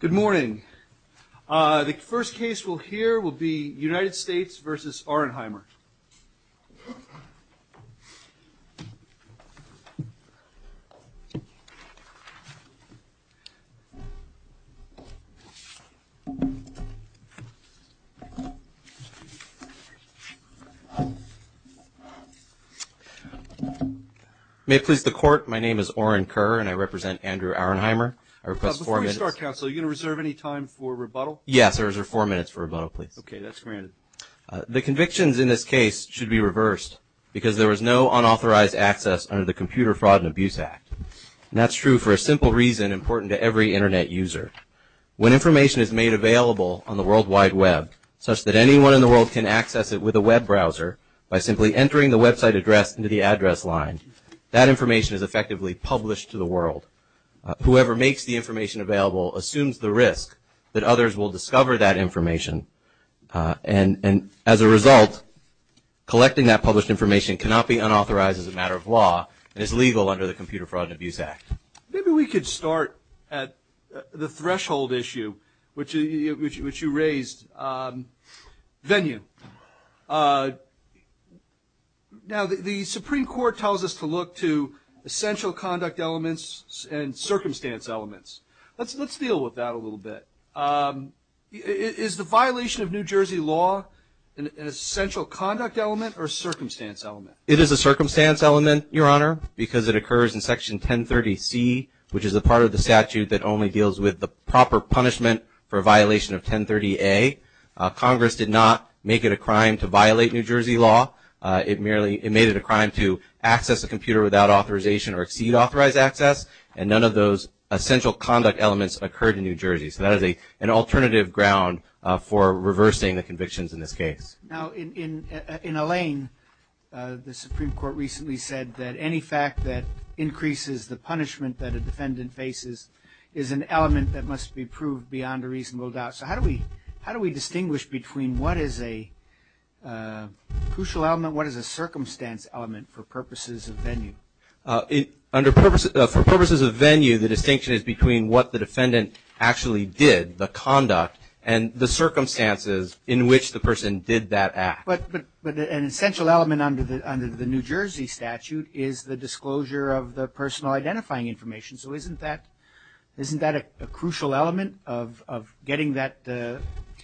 Good morning. The first case we'll hear will be United States v. Auernheimer. May it please the Court, my name is Auernher and I represent Andrew Auernheimer. I request four minutes. Before we start, counsel, are you going to reserve any time for rebuttal? Yes, I'll reserve four minutes for rebuttal, please. Okay, that's granted. The convictions in this case should be reversed because there was no unauthorized access under the Computer Fraud and Abuse Act. And that's true for a simple reason important to every Internet user. When information is made available on the World Wide Web such that anyone in access it with a web browser by simply entering the website address into the address line, that information is effectively published to the world. Whoever makes the information available assumes the risk that others will discover that information. And as a result, collecting that published information cannot be unauthorized as a matter of law and is legal under the Computer Fraud and Abuse Act. Maybe we could start at the threshold issue which you raised, venue. Now, the Supreme Court tells us to look to essential conduct elements and circumstance elements. Let's deal with that a little bit. Is the violation of New Jersey law an essential conduct element or a circumstance element? It is a circumstance element, Your Honor, because it occurs in Section 1030C, which is a part of the statute that only deals with the proper punishment for a violation of 1030A. Congress did not make it a crime to violate New Jersey law. It made it a crime to access a computer without authorization or exceed authorized access. And none of those essential conduct elements occurred in New Jersey. So that is an alternative ground for reversing the convictions in this case. Now, in Alain, the Supreme Court recently said that any fact that increases the punishment that a defendant faces is an element that must be proved beyond a reasonable doubt. So how do we distinguish between what is a crucial element, what is a circumstance element for purposes of venue? For purposes of venue, the distinction is between what the defendant actually did, the act. But an essential element under the New Jersey statute is the disclosure of the personal identifying information. So isn't that a crucial element of getting that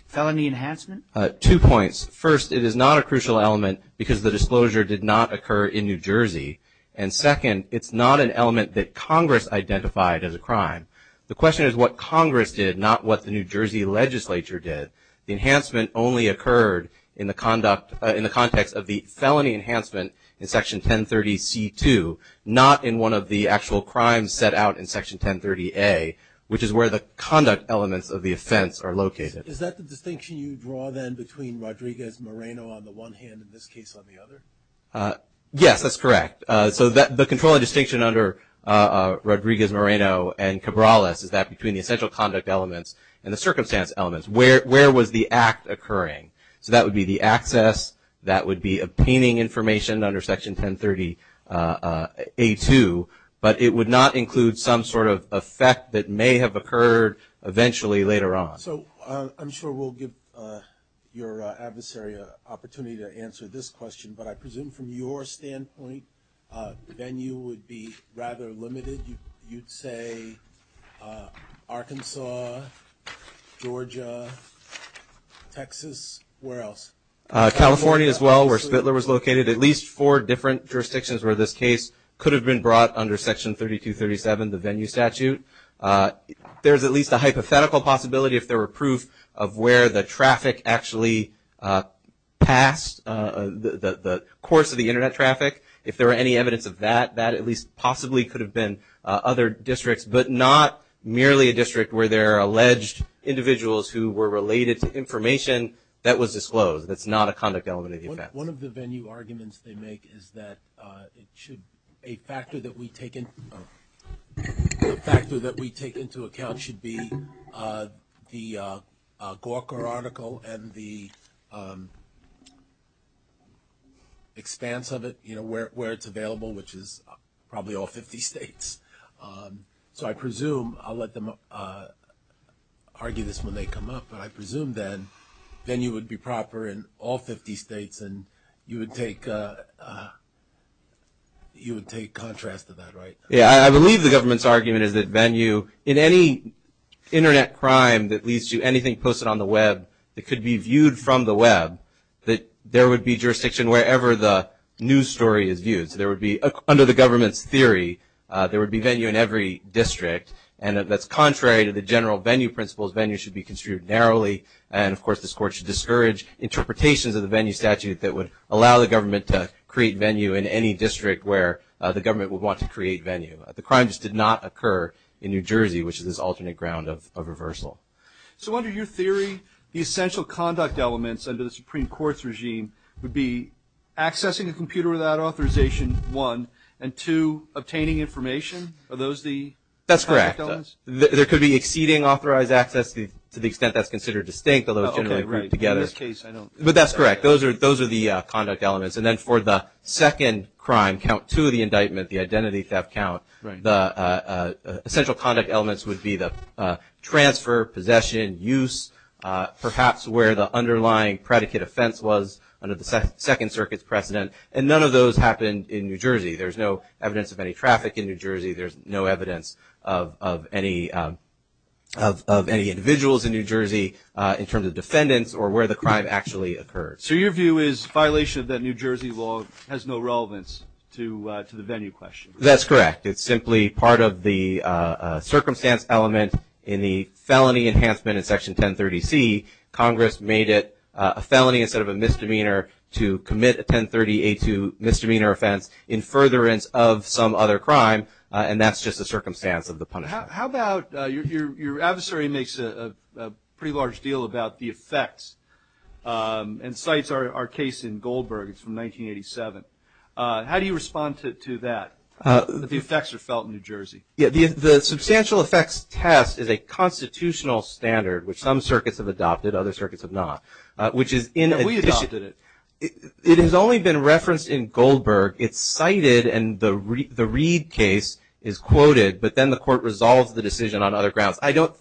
felony enhancement? Two points. First, it is not a crucial element because the disclosure did not occur in New Jersey. And second, it's not an element that Congress identified as a crime. The question is what Congress did, not what the New Jersey legislature did. The enhancement only occurred in the conduct, in the context of the felony enhancement in Section 1030C2, not in one of the actual crimes set out in Section 1030A, which is where the conduct elements of the offense are located. Is that the distinction you draw then between Rodriguez-Moreno on the one hand and this case on the other? Yes, that's correct. So the controlling distinction under Rodriguez-Moreno and Cabrales is that between the essential conduct elements and the circumstance elements. Where was the act occurring? So that would be the access, that would be obtaining information under Section 1030A2, but it would not include some sort of effect that may have occurred eventually later on. So I'm sure we'll give your adversary an opportunity to answer this question, but I presume from your standpoint the venue would be rather limited. You'd say Arkansas, Georgia, Texas, where else? California as well, where Spitler was located. At least four different jurisdictions where this case could have been brought under Section 3237, the venue statute. There's at least a hypothetical possibility if there were proof of where the traffic actually passed, the course of the internet traffic. If there were any evidence of that, that at least possibly could have been other districts, but not merely a district where there are alleged individuals who were related to information that was disclosed. That's not a conduct element of the offense. One of the venue arguments they make is that it should, a factor that we take into account should be the Gawker article and the expanse of it, where it's available, which is probably all 50 states. So I presume, I'll let them argue this when they come up, but I presume that venue would be proper in all 50 states and you would take contrast to that, right? Yeah, I believe the government's argument is that venue, in any internet crime that leads to anything posted on the web that could be viewed from the web, that there would be venue in every district. And that that's contrary to the general venue principles, venue should be construed narrowly. And of course, this court should discourage interpretations of the venue statute that would allow the government to create venue in any district where the government would want to create venue. The crimes did not occur in New Jersey, which is this alternate ground of reversal. So under your theory, the essential conduct elements under the Supreme Court's regime would be accessing a computer without authorization, one, and two, obtaining information? Are those the conduct elements? That's correct. There could be exceeding authorized access, to the extent that's considered distinct, although it's generally grouped together. Okay, right. In this case, I don't... But that's correct. Those are the conduct elements. And then for the second crime, count two of the indictment, the identity theft count, the essential conduct elements would be the transfer, possession, use, perhaps where the underlying predicate offense was under the Second Circuit's precedent. And none of those happened in New Jersey. There's no evidence of any traffic in New Jersey. There's no evidence of any individuals in New Jersey in terms of defendants or where the crime actually occurred. So your view is violation of the New Jersey law has no relevance to the venue question? That's correct. It's simply part of the circumstance element in the felony enhancement in Section 1030C. Congress made it a felony instead of a misdemeanor to commit a 1030A2 misdemeanor offense in furtherance of some other crime. And that's just the circumstance of the punishment. How about your adversary makes a pretty large deal about the effects and cites our case in Goldberg. It's from 1987. How do you respond to that? The effects are felt in New Jersey. Yeah. The substantial effects test is a constitutional standard which some circuits have adopted. Other circuits have not. Which is in addition to it. We adopted it. It has only been referenced in Goldberg. It's cited and the Reid case is quoted. But then the court resolves the decision on other grounds. I don't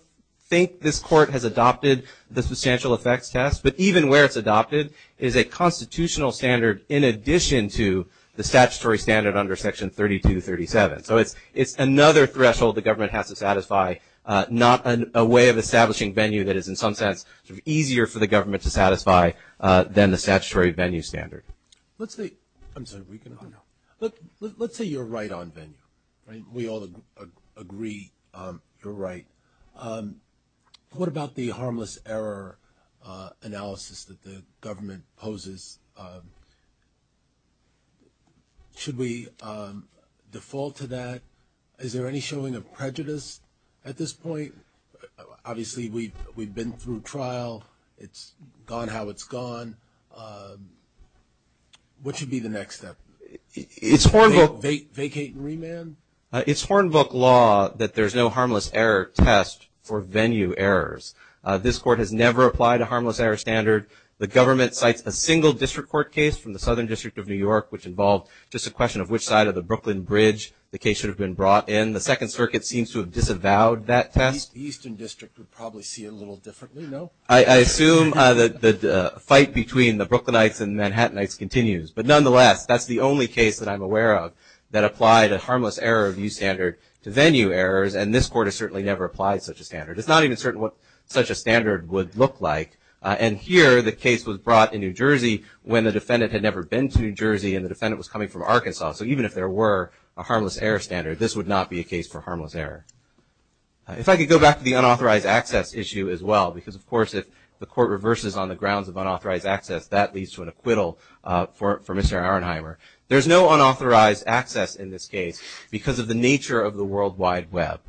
think this court has adopted the substantial effects test. But even where it's adopted is a constitutional standard in addition to the statutory standard under Section 3237. So it's another threshold the government has to satisfy. Not a way of establishing venue that is in some sense easier for the government to satisfy than the statutory venue standard. Let's say you're right on venue. We all agree you're right. What about the harmless error analysis that the government poses? Should we default to that? Is there any showing of prejudice at this point? Obviously we've been through trial. It's gone how it's gone. What should be the next step? Vacate and remand? It's Hornbook law that there's no harmless error test for venue errors. This court has never applied a harmless error standard. The government cites a single district court case from the Southern District of New York which involved just a question of which side of the Brooklyn Bridge the case should have been brought in. The Second Circuit seems to have disavowed that test. The Eastern District would probably see it a little differently, no? I assume that the fight between the Brooklynites and Manhattanites continues. But nonetheless, that's the only case that I'm aware of that applied a harmless error review standard to venue errors. And this court has certainly never applied such a standard. It's not even certain what such a standard would look like. And here, the case was brought in New Jersey when the defendant had never been to New Jersey and the defendant was coming from Arkansas. So even if there were a harmless error standard, this would not be a case for harmless error. If I could go back to the unauthorized access issue as well, because of course if the court reverses on the grounds of unauthorized access, that leads to an acquittal for Mr. Arnheimer. There's no unauthorized access in this case because of the nature of the World Wide Web.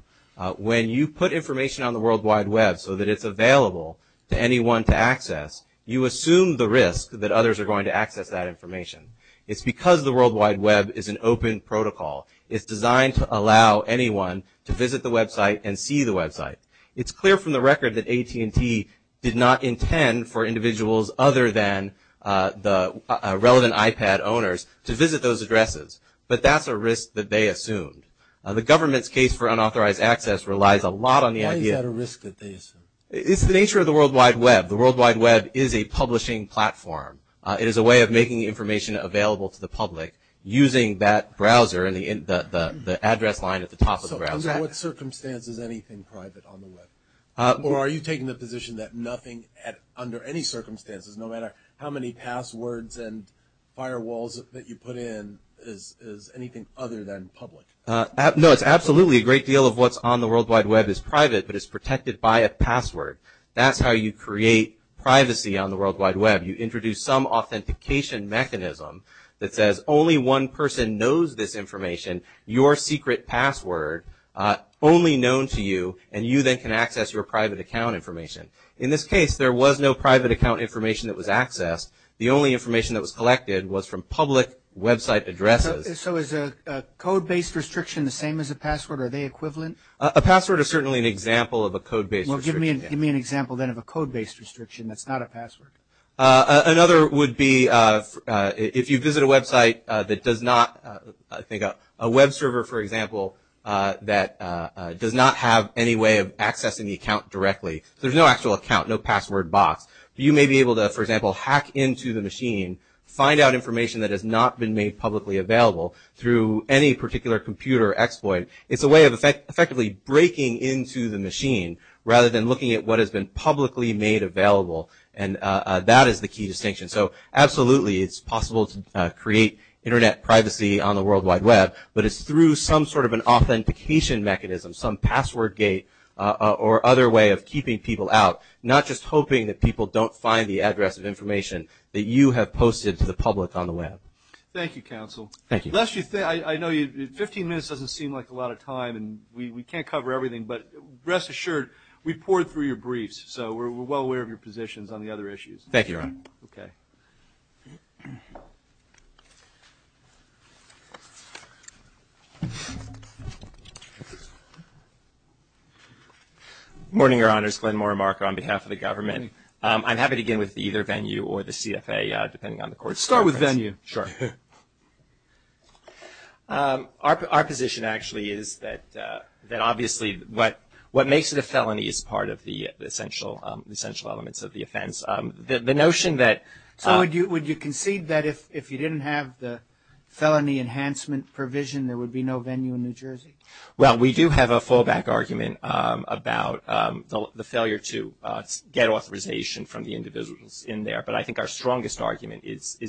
When you put information on the World Wide Web so that it's available to anyone to access, you assume the risk that others are going to access that information. It's because the World Wide Web is an open protocol. It's designed to allow anyone to visit the website and see the website. It's clear from the record that AT&T did not intend for individuals other than the relevant iPad owners to visit those addresses. But that's a risk that they assumed. The government's case for unauthorized access relies a lot on the idea... Why is that a risk that they assume? It's the nature of the World Wide Web. The World Wide Web is a publishing platform. It is a way of making information available to the public using that browser and the address line at the top of the browser. So under what circumstances is anything private on the Web? Or are you taking the position that nothing under any circumstances, no matter how many passwords and firewalls that you have, is private? No, it's absolutely a great deal of what's on the World Wide Web is private, but it's protected by a password. That's how you create privacy on the World Wide Web. You introduce some authentication mechanism that says only one person knows this information, your secret password, only known to you, and you then can access your private account information. In this case, there was no private account information that was accessed. The only information that was collected was from public website addresses. So is a code-based restriction the same as a password? Are they equivalent? A password is certainly an example of a code-based restriction. Well, give me an example then of a code-based restriction that's not a password. Another would be if you visit a website that does not... I think a web server, for example, that does not have any way of accessing the account directly. There's no actual account, no password box. You may be able to, for example, hack into the machine, find out information that has not been made publicly available through any particular computer exploit. It's a way of effectively breaking into the machine rather than looking at what has been publicly made available, and that is the key distinction. So absolutely, it's possible to create Internet privacy on the World Wide Web, but it's through some sort of an authentication mechanism, some password gate or other way of keeping people out, not just hoping that people don't find the address of information that you have Thank you, Counsel. Thank you. I know 15 minutes doesn't seem like a lot of time, and we can't cover everything, but rest assured, we've pored through your briefs, so we're well aware of your positions on the other issues. Thank you, Your Honor. Okay. Morning, Your Honors. Glenn Morimarco on behalf of the government. I'm happy to begin with either venue or the CFA, depending on the court's preference. Let's start with venue. Sure. Our position actually is that obviously what makes it a felony is part of the essential elements of the offense. The notion that So would you concede that if you didn't have the felony enhancement provision, there would be no venue in New Jersey? Well, we do have a fallback argument about the failure to get authorization from the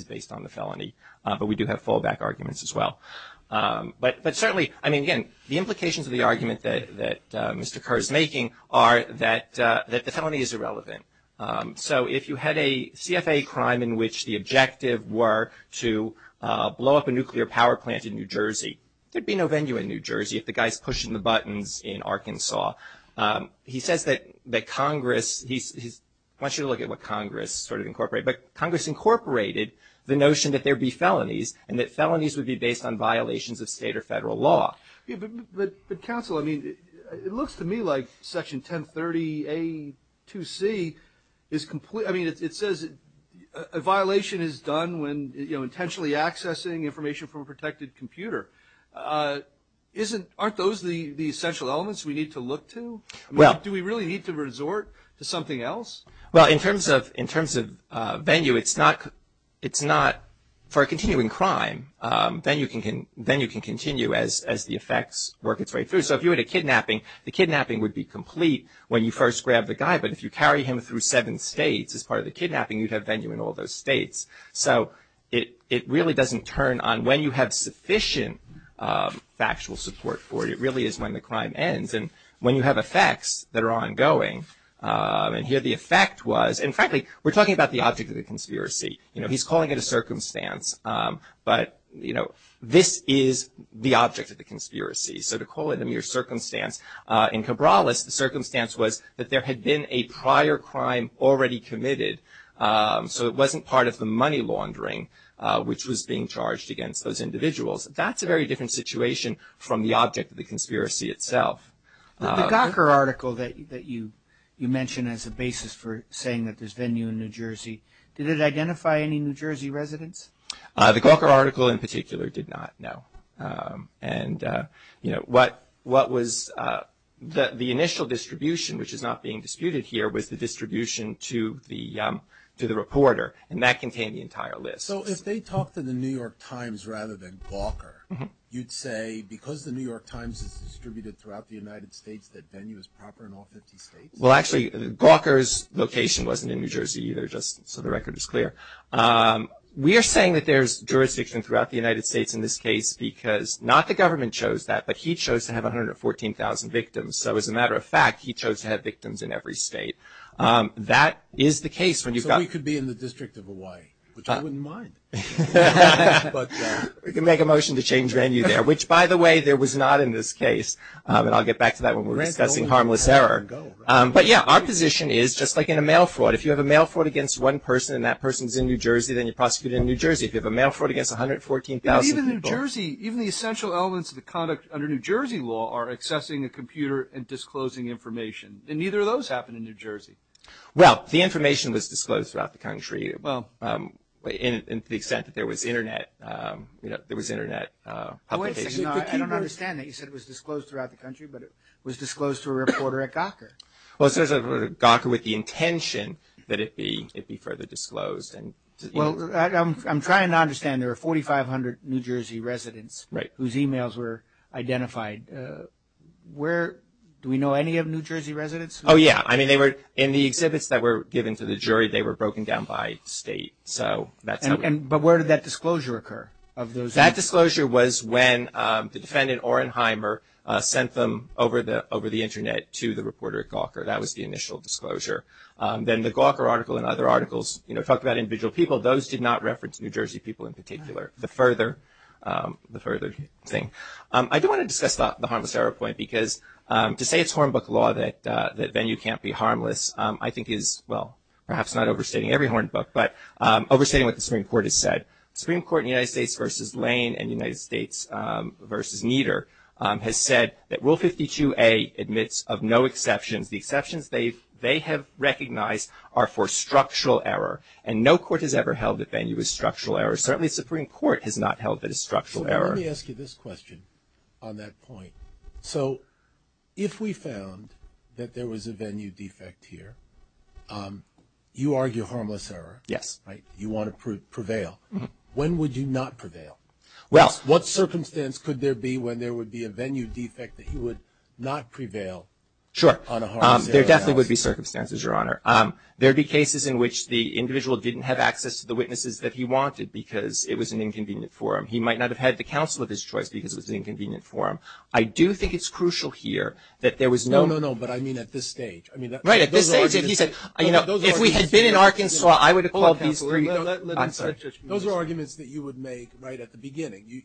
based on the felony, but we do have fallback arguments as well. But certainly, I mean again, the implications of the argument that Mr. Kerr is making are that the felony is irrelevant. So if you had a CFA crime in which the objective were to blow up a nuclear power plant in New Jersey, there'd be no venue in New Jersey if the guy's pushing the buttons in Arkansas. He says that Congress, I want you to look at what Congress sort of incorporated, but the notion that there'd be felonies and that felonies would be based on violations of state or federal law. Yeah, but counsel, I mean, it looks to me like Section 1030A-2C is complete. I mean, it says a violation is done when, you know, intentionally accessing information from a protected computer. Aren't those the essential elements we need to look to? Well. I mean, do we really need to resort to something else? Well, in terms of venue, it's not for a continuing crime. Then you can continue as the effects work its way through. So if you had a kidnapping, the kidnapping would be complete when you first grab the guy, but if you carry him through seven states as part of the kidnapping, you'd have venue in all those states. So it really doesn't turn on when you have sufficient factual support for it. It really is when the crime ends. And when you have effects that are ongoing, and here the effect was, and frankly, we're talking about the object of the conspiracy. You know, he's calling it a circumstance. But, you know, this is the object of the conspiracy. So to call it a mere circumstance, in Cabrales, the circumstance was that there had been a prior crime already committed. So it wasn't part of the money laundering which was being charged against those individuals. That's a very different situation from the object of the conspiracy itself. The Gawker article that you mentioned as a basis for saying that there's venue in New Jersey, did it identify any New Jersey residents? The Gawker article in particular did not, no. And, you know, what was the initial distribution, which is not being disputed here, was the distribution to the reporter, and that contained the entire list. So if they talked to the New York Times rather than Gawker, you'd say because the New York Times is in the United States, that venue is proper in all 50 states? Well, actually, Gawker's location wasn't in New Jersey either, just so the record is clear. We are saying that there's jurisdiction throughout the United States in this case because not the government chose that, but he chose to have 114,000 victims. So as a matter of fact, he chose to have victims in every state. That is the case when you've got So he could be in the District of Hawaii, which I wouldn't mind. We can make a motion to change venue there, which, by the way, there was not in this case. And I'll get back to that when we're discussing harmless error. But, yeah, our position is, just like in a mail fraud, if you have a mail fraud against one person and that person's in New Jersey, then you're prosecuting in New Jersey. If you have a mail fraud against 114,000 people But even New Jersey, even the essential elements of the conduct under New Jersey law are accessing a computer and disclosing information. And neither of those happened in New Jersey. Well, the information was disclosed throughout the country, to the extent that there was internet, you know, there was internet publication I don't understand that. You said it was disclosed throughout the country, but it was disclosed to a reporter at Gawker. Well, it says at Gawker with the intention that it be further disclosed. Well, I'm trying to understand. There are 4,500 New Jersey residents Right. whose emails were identified. Where, do we know any of New Jersey residents? Oh, yeah. I mean, they were in the exhibits that were given to the jury. They were broken down by state. So that's not And but where did that disclosure occur of those? That disclosure was when the defendant, Orenheimer, sent them over the internet to the reporter at Gawker. That was the initial disclosure. Then the Gawker article and other articles, you know, talked about individual people. Those did not reference New Jersey people in particular. The further, the further thing. I do want to discuss the harmless error point because to say it's Hornbook law that venue can't be harmless, I think is, well, perhaps not overstating every Hornbook, but overstating what the Supreme Court has said. Supreme Court in the United States versus Lane and United States versus Nieder has said that Rule 52A admits of no exceptions. The exceptions they've, they have recognized are for structural error. And no court has ever held that venue is structural error. Certainly, Supreme Court has not held that it's structural error. Let me ask you this question on that point. So, if we found that there was a venue defect here, you argue harmless error. Yes. Right. You want to prevail. When would you not prevail? Well. What circumstance could there be when there would be a venue defect that he would not prevail on a harmless error analysis? Sure. There definitely would be circumstances, Your Honor. There'd be cases in which the individual didn't have access to the witnesses that he wanted because it was an inconvenient forum. He might not have had the counsel of his choice because it was an inconvenient forum. I do think it's crucial here that there was no. No, no, no, but I mean at this stage. I mean. Right. At this stage, if he said, you know, if we had been in Arkansas, I would have called these three. Let him finish. Those are arguments that you would make right at the beginning.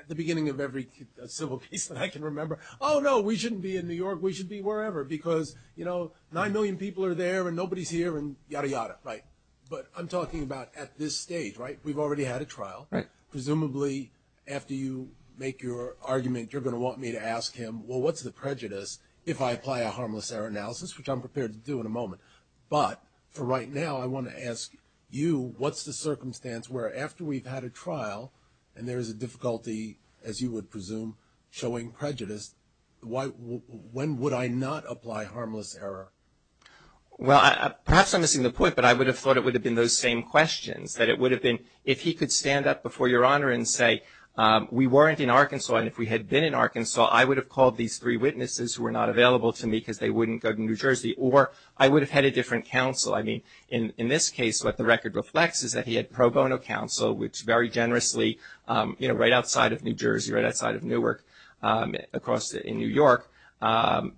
At the beginning of every civil case that I can remember. Oh, no, we shouldn't be in New York. We should be wherever because, you know, nine million people are there and nobody's here and yada, yada, right? But I'm talking about at this stage, right? We've already had a trial. Right. Presumably, after you make your argument, you're going to want me to ask him, which I'm prepared to do in a moment. But for right now, I want to ask you, what's the circumstance where after we've had a trial and there is a difficulty, as you would presume, showing prejudice, why, when would I not apply harmless error? Well, perhaps I'm missing the point, but I would have thought it would have been those same questions. That it would have been, if he could stand up before your honor and say, we weren't in Arkansas and if we had been in Arkansas, I would have called these three witnesses who were not available to me because they wouldn't go to New Jersey. Or I would have had a different counsel. I mean, in this case, what the record reflects is that he had pro bono counsel, which very generously, you know, right outside of New Jersey, right outside of Newark, across in New York,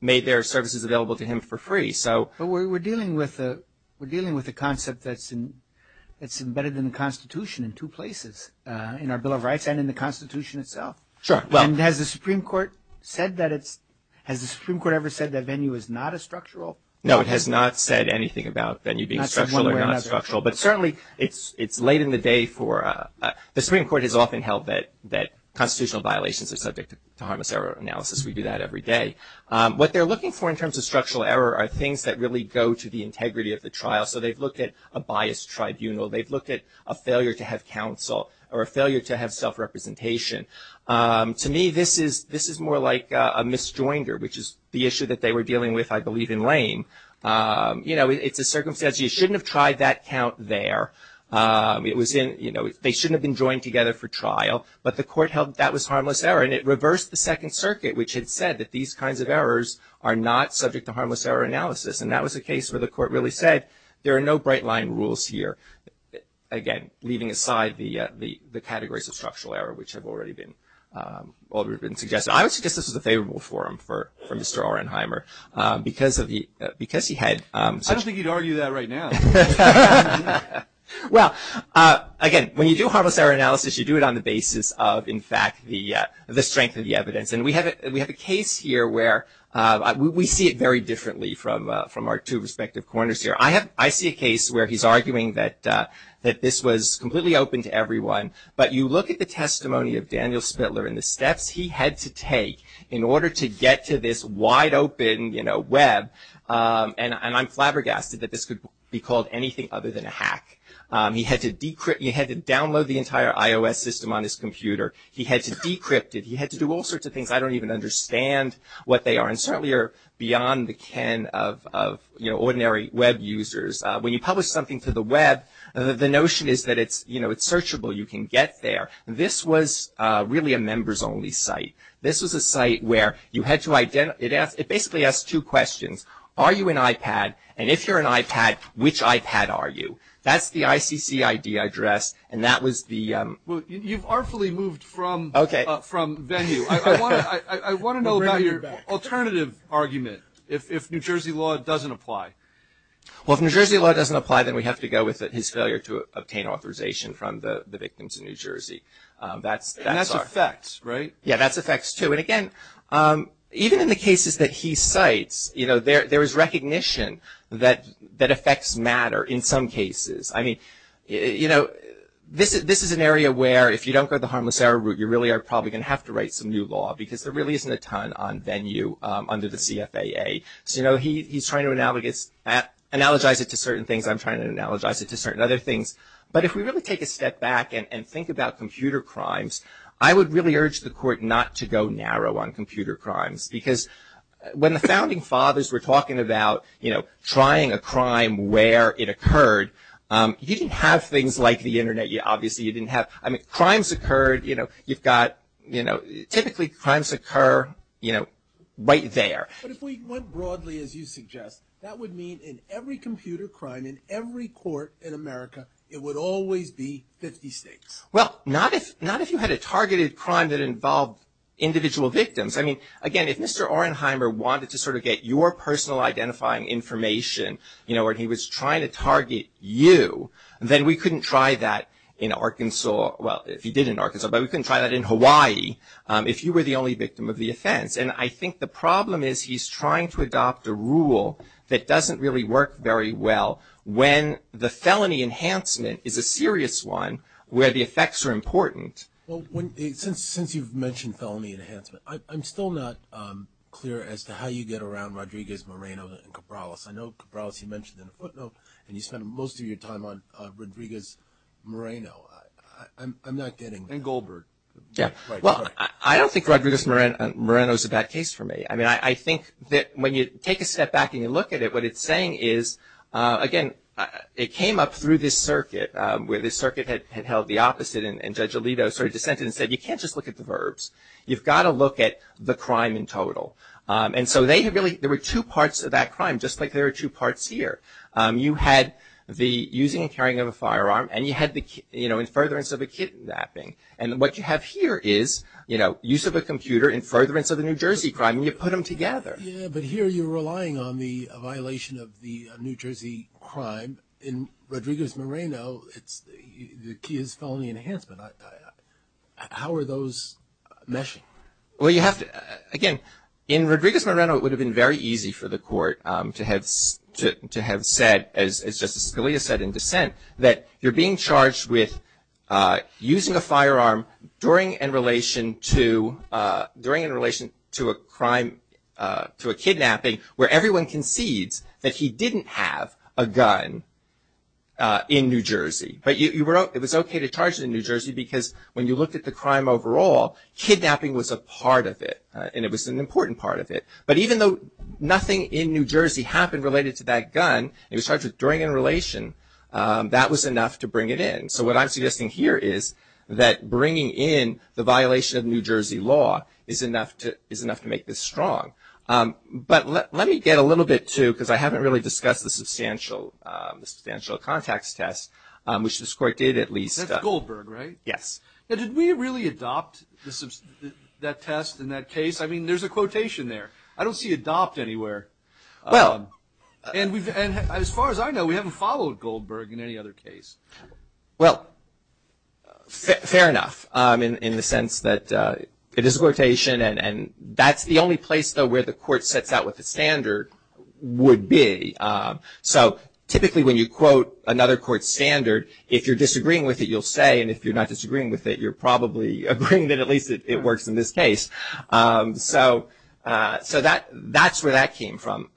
made their services available to him for free. So. But we're dealing with a concept that's embedded in the Constitution in two places, in our Bill of Rights and in the Constitution itself. Sure. And has the Supreme Court said that it's, has the Supreme Court ever said that Venue is not a structural? No, it has not said anything about Venue being structural or not structural. But certainly, it's late in the day for, the Supreme Court has often held that constitutional violations are subject to harmless error analysis. We do that every day. What they're looking for in terms of structural error are things that really go to the integrity of the trial. So they've looked at a biased tribunal. They've looked at a failure to have counsel or a failure to have self-representation. To me, this is, this is more like a misjoinder, which is the issue that they were dealing with, I believe, in Lane. You know, it's a circumstance. You shouldn't have tried that count there. It was in, you know, they shouldn't have been joined together for trial. But the court held that was harmless error. And it reversed the Second Circuit, which had said that these kinds of errors are not subject to harmless error analysis. And that was a case where the court really said, there are no bright line rules here. Again, leaving aside the, the, the categories of structural error, which have already been, already been suggested. I would suggest this is a favorable forum for, for Mr. Orenheimer. Because of the, because he had such. I don't think he'd argue that right now. Well, again, when you do harmless error analysis, you do it on the basis of, in fact, the, the strength of the evidence. And we have a, we have a case here where we, we see it very differently from, from our two respective corners here. I have, I see a case where he's arguing that, that this was completely open to everyone. But you look at the testimony of Daniel Spittler and the steps he had to take in order to get to this wide open, you know, web. And, and I'm flabbergasted that this could be called anything other than a hack. He had to decrypt, he had to download the entire iOS system on his computer. He had to decrypt it. He had to do all sorts of things. I don't even understand what they are. And certainly are beyond the can of, of, you know, ordinary web users. When you publish something to the web, the notion is that it's, you know, it's searchable. You can get there. This was really a members only site. This was a site where you had to identify, it asked, it basically asked two questions. Are you an iPad? And if you're an iPad, which iPad are you? That's the ICC ID address. And that was the. Well, you've artfully moved from. Okay. From venue. I want to know about your alternative argument. If, if New Jersey law doesn't apply. Well, if New Jersey law doesn't apply, then we have to go with his failure to obtain authorization from the, the victims in New Jersey. That's, that's our. And that's effects, right? Yeah, that's effects too. And again, even in the cases that he cites, you know, there, there is recognition that, that effects matter in some cases. I mean, you know, this is, this is an area where if you don't go the harmless error route, you really are probably going to have to write some new law because there really isn't a ton on venue under the CFAA. So, you know, he, he's trying to analogous, analogize it to certain things. I'm trying to analogize it to certain other things. But if we really take a step back and, and think about computer crimes, I would really urge the court not to go narrow on computer crimes. Because when the founding fathers were talking about, you know, trying a crime where it occurred, you didn't have things like the internet. You obviously, you didn't have, I mean, crimes occurred, you know, you've got, you know, typically crimes occur, you know, right there. But if we went broadly, as you suggest, that would mean in every computer crime, in every court in America, it would always be 50 states. Well, not if, not if you had a targeted crime that involved individual victims. I mean, again, if Mr. Orenheimer wanted to sort of get your personal identifying information, you know, when he was trying to target you, then we couldn't try that in Arkansas. Well, if he did in Arkansas, but we couldn't try that in Hawaii, if you were the only victim of the offense. And I think the problem is, he's trying to adopt a rule that doesn't really work very well when the felony enhancement is a serious one, where the effects are important. Well, when, since, since you've mentioned felony enhancement, I, I'm still not clear as to how you get around Rodriguez, Moreno, and Cabrales. I know Cabrales, you mentioned in the footnote, and you spent most of your time on Rodriguez, Moreno. I'm, I'm not getting. And Goldberg. Yeah. Well, I, I don't think Rodriguez, Moreno, Moreno's a bad case for me. I mean, I, I think that when you take a step back and you look at it, what it's saying is, again, it came up through this circuit, where this circuit had, had held the opposite. And, and Judge Alito sort of dissented and said, you can't just look at the verbs. You've got to look at the crime in total. And so, they really, there were two parts of that crime, just like there are two parts here. You had the using and carrying of a firearm, and you had the, you know, in furtherance of a kidnapping. And what you have here is, you know, use of a computer in furtherance of a New Jersey crime, and you put them together. Yeah, but here you're relying on the violation of the New Jersey crime. In Rodriguez, Moreno, it's the, the key is felony enhancement. How are those meshing? Well, you have to, again, in Rodriguez, Moreno, it would have been very easy for the court to have, to, to have said, as, as Justice Scalia said in dissent, that you're being charged with using a firearm during, in relation to during, in relation to a crime to a kidnapping, where everyone concedes that he didn't have a gun in New Jersey. But you, you were, it was okay to charge it in New Jersey, because when you looked at the crime overall, kidnapping was a part of it, and it was an important part of it. But even though nothing in New Jersey happened related to that gun, it was charged with during a relation. That was enough to bring it in. So what I'm suggesting here is that bringing in the violation of New Jersey law is enough to, is enough to make this strong. But let, let me get a little bit too, because I haven't really discussed the substantial the substantial context test. Which this court did at least. That's Goldberg, right? Yes. Now did we really adopt the, the, that test in that case? I mean, there's a quotation there. I don't see adopt anywhere. Well. And we've, and as far as I know, we haven't followed Goldberg in any other case. Well, fair enough. In, in the sense that it is a quotation, and, and that's the only place, though, where the court sets out what the standard would be. So, typically when you quote another court's standard, if you're disagreeing with it, you'll say, and if you're not disagreeing with it, you're probably agreeing that at least it, it works in this case. So, so that, that's where that came from.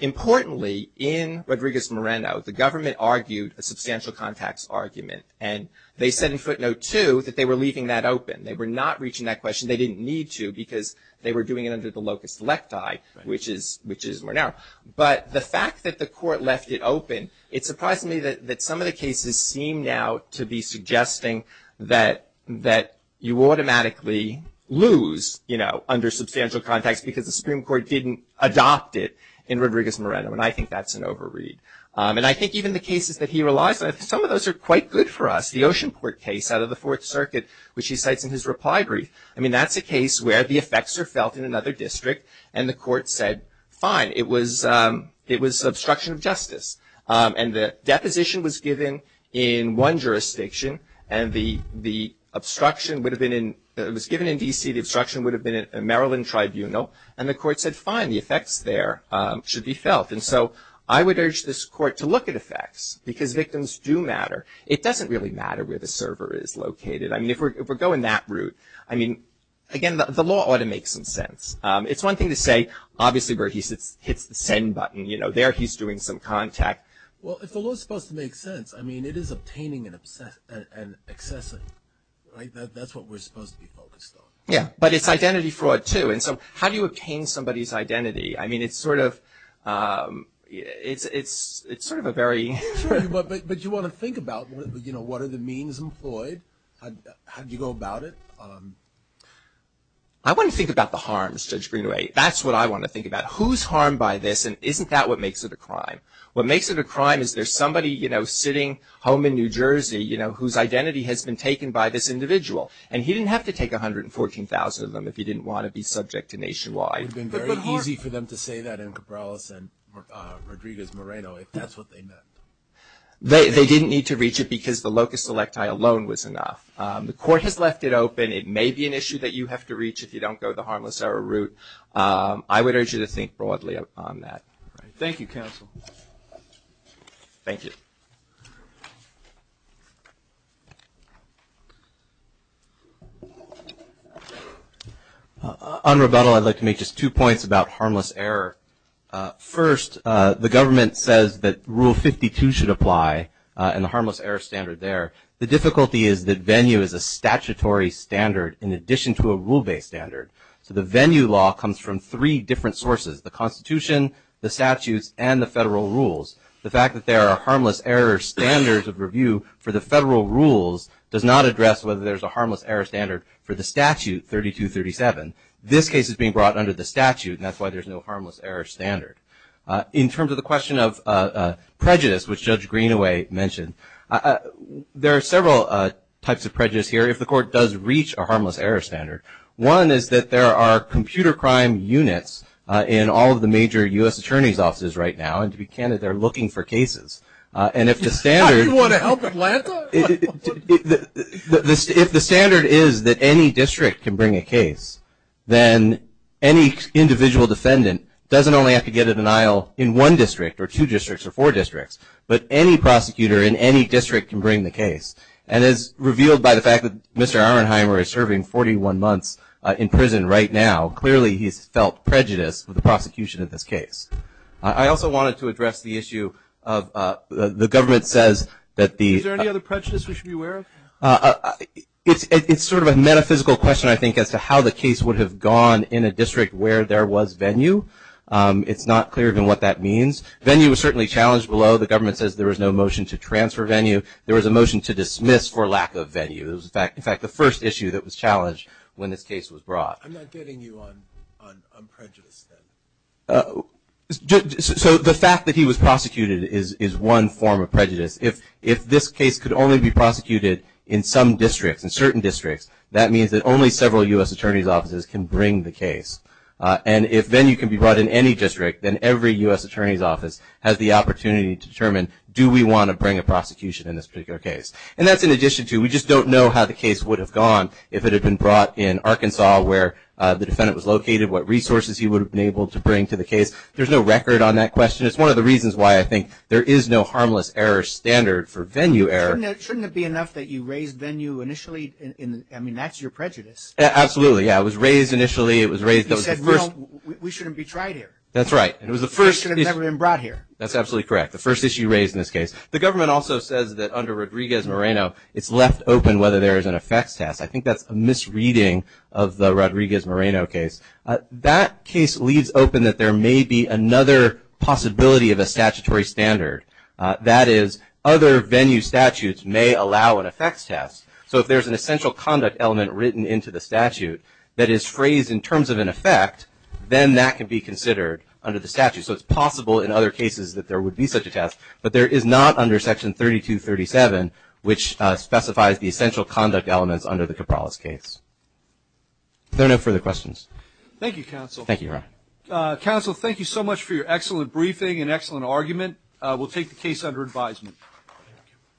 Importantly, in Rodriguez-Moreno, the government argued a substantial context argument, and they said in footnote two that they were leaving that open. They were not reaching that question. They didn't need to, because they were doing it under the locus electi. Which is, which is more narrow. But the fact that the court left it open, it surprised me that, that some of the cases seem now to be suggesting that, that you automatically lose, you know, under substantial context, because the Supreme Court didn't adopt it in Rodriguez-Moreno. And I think that's an over read. And I think even the cases that he relies on, some of those are quite good for us. The Oceanport case out of the Fourth Circuit, which he cites in his reply brief. I mean, that's a case where the effects are felt in another district, and the court said, fine, it was it was obstruction of justice. And the deposition was given in one jurisdiction, and the obstruction would have been in, it was given in D.C., the obstruction would have been in a Maryland tribunal. And the court said, fine, the effects there should be felt. And so, I would urge this court to look at effects, because victims do matter. It doesn't really matter where the server is located. I mean, if we're going that route, I mean, again, the law ought to make some sense. It's one thing to say, obviously, where he hits the send button, you know, there he's doing some contact. Well, if the law's supposed to make sense, I mean, it is obtaining and obsessing, right? That's what we're supposed to be focused on. Yeah, but it's identity fraud, too. And so, how do you obtain somebody's identity? I mean, it's sort of, it's, it's, it's sort of a very. Sure, but, but you want to think about, you know, what are the means employed? How, how do you go about it? I want to think about the harms, Judge Greenaway. That's what I want to think about. Who's harmed by this, and isn't that what makes it a crime? What makes it a crime is there's somebody, you know, sitting home in New Jersey, you know, whose identity has been taken by this individual. And he didn't have to take 114,000 of them, if he didn't want to be subject to nationwide. It would have been very easy for them to say that in Cabrales and Rodriguez Moreno, if that's what they meant. They, they didn't need to reach it because the locus selecti alone was enough. The court has left it open. It may be an issue that you have to reach if you don't go the harmless error route. I would urge you to think broadly on that. Thank you, counsel. Thank you. On rebuttal, I'd like to make just two points about harmless error. First, the government says that rule 52 should apply, and the harmless error standard there. The difficulty is that venue is a statutory standard in addition to a rule based standard. So the venue law comes from three different sources. The constitution, the statutes, and the federal rules. The fact that there are harmless error standards of review for the federal rules does not address whether there's a harmless error standard for the statute 3237. This case is being brought under the statute, and that's why there's no harmless error standard. In terms of the question of prejudice, which Judge Greenaway mentioned, there are several types of prejudice here, if the court does reach a harmless error standard. One is that there are computer crime units in all of the major US attorney's offices right now, and to be candid, they're looking for cases. And if the standard- You want to help Atlanta? If the standard is that any district can bring a case, then any individual defendant doesn't only have to get a denial in one district, or two districts, or four districts, but any prosecutor in any district can bring the in prison right now. Clearly, he's felt prejudice with the prosecution of this case. I also wanted to address the issue of the government says that the- Is there any other prejudice we should be aware of? It's sort of a metaphysical question, I think, as to how the case would have gone in a district where there was venue. It's not clear even what that means. Venue was certainly challenged below. The government says there was no motion to transfer venue. There was a motion to dismiss for lack of venue. It was, in fact, the first issue that was challenged when this case was brought. I'm not getting you on prejudice then. So the fact that he was prosecuted is one form of prejudice. If this case could only be prosecuted in some districts, in certain districts, that means that only several US attorney's offices can bring the case. And if venue can be brought in any district, then every US attorney's office has the opportunity to determine, do we want to bring a prosecution in this particular case? And that's in addition to, we just don't know how the case would have gone if it had been brought in Arkansas where the defendant was located, what resources he would have been able to bring to the case. There's no record on that question. It's one of the reasons why I think there is no harmless error standard for venue error. Shouldn't it be enough that you raise venue initially? I mean, that's your prejudice. Absolutely, yeah. It was raised initially. It was raised, that was the first- We shouldn't be tried here. That's right. It was the first- It should have never been brought here. That's absolutely correct. The first issue raised in this case. The government also says that under Rodriguez-Moreno, it's left open whether there is an effects test. I think that's a misreading of the Rodriguez-Moreno case. That case leaves open that there may be another possibility of a statutory standard. That is, other venue statutes may allow an effects test. So if there's an essential conduct element written into the statute that is phrased in terms of an effect, then that can be considered under the statute. So it's possible in other cases that there would be such a test. But there is not under Section 3237, which specifies the essential conduct elements under the Cabrales case. There are no further questions. Thank you, counsel. Thank you, Ron. Counsel, thank you so much for your excellent briefing and excellent argument. We'll take the case under advisement.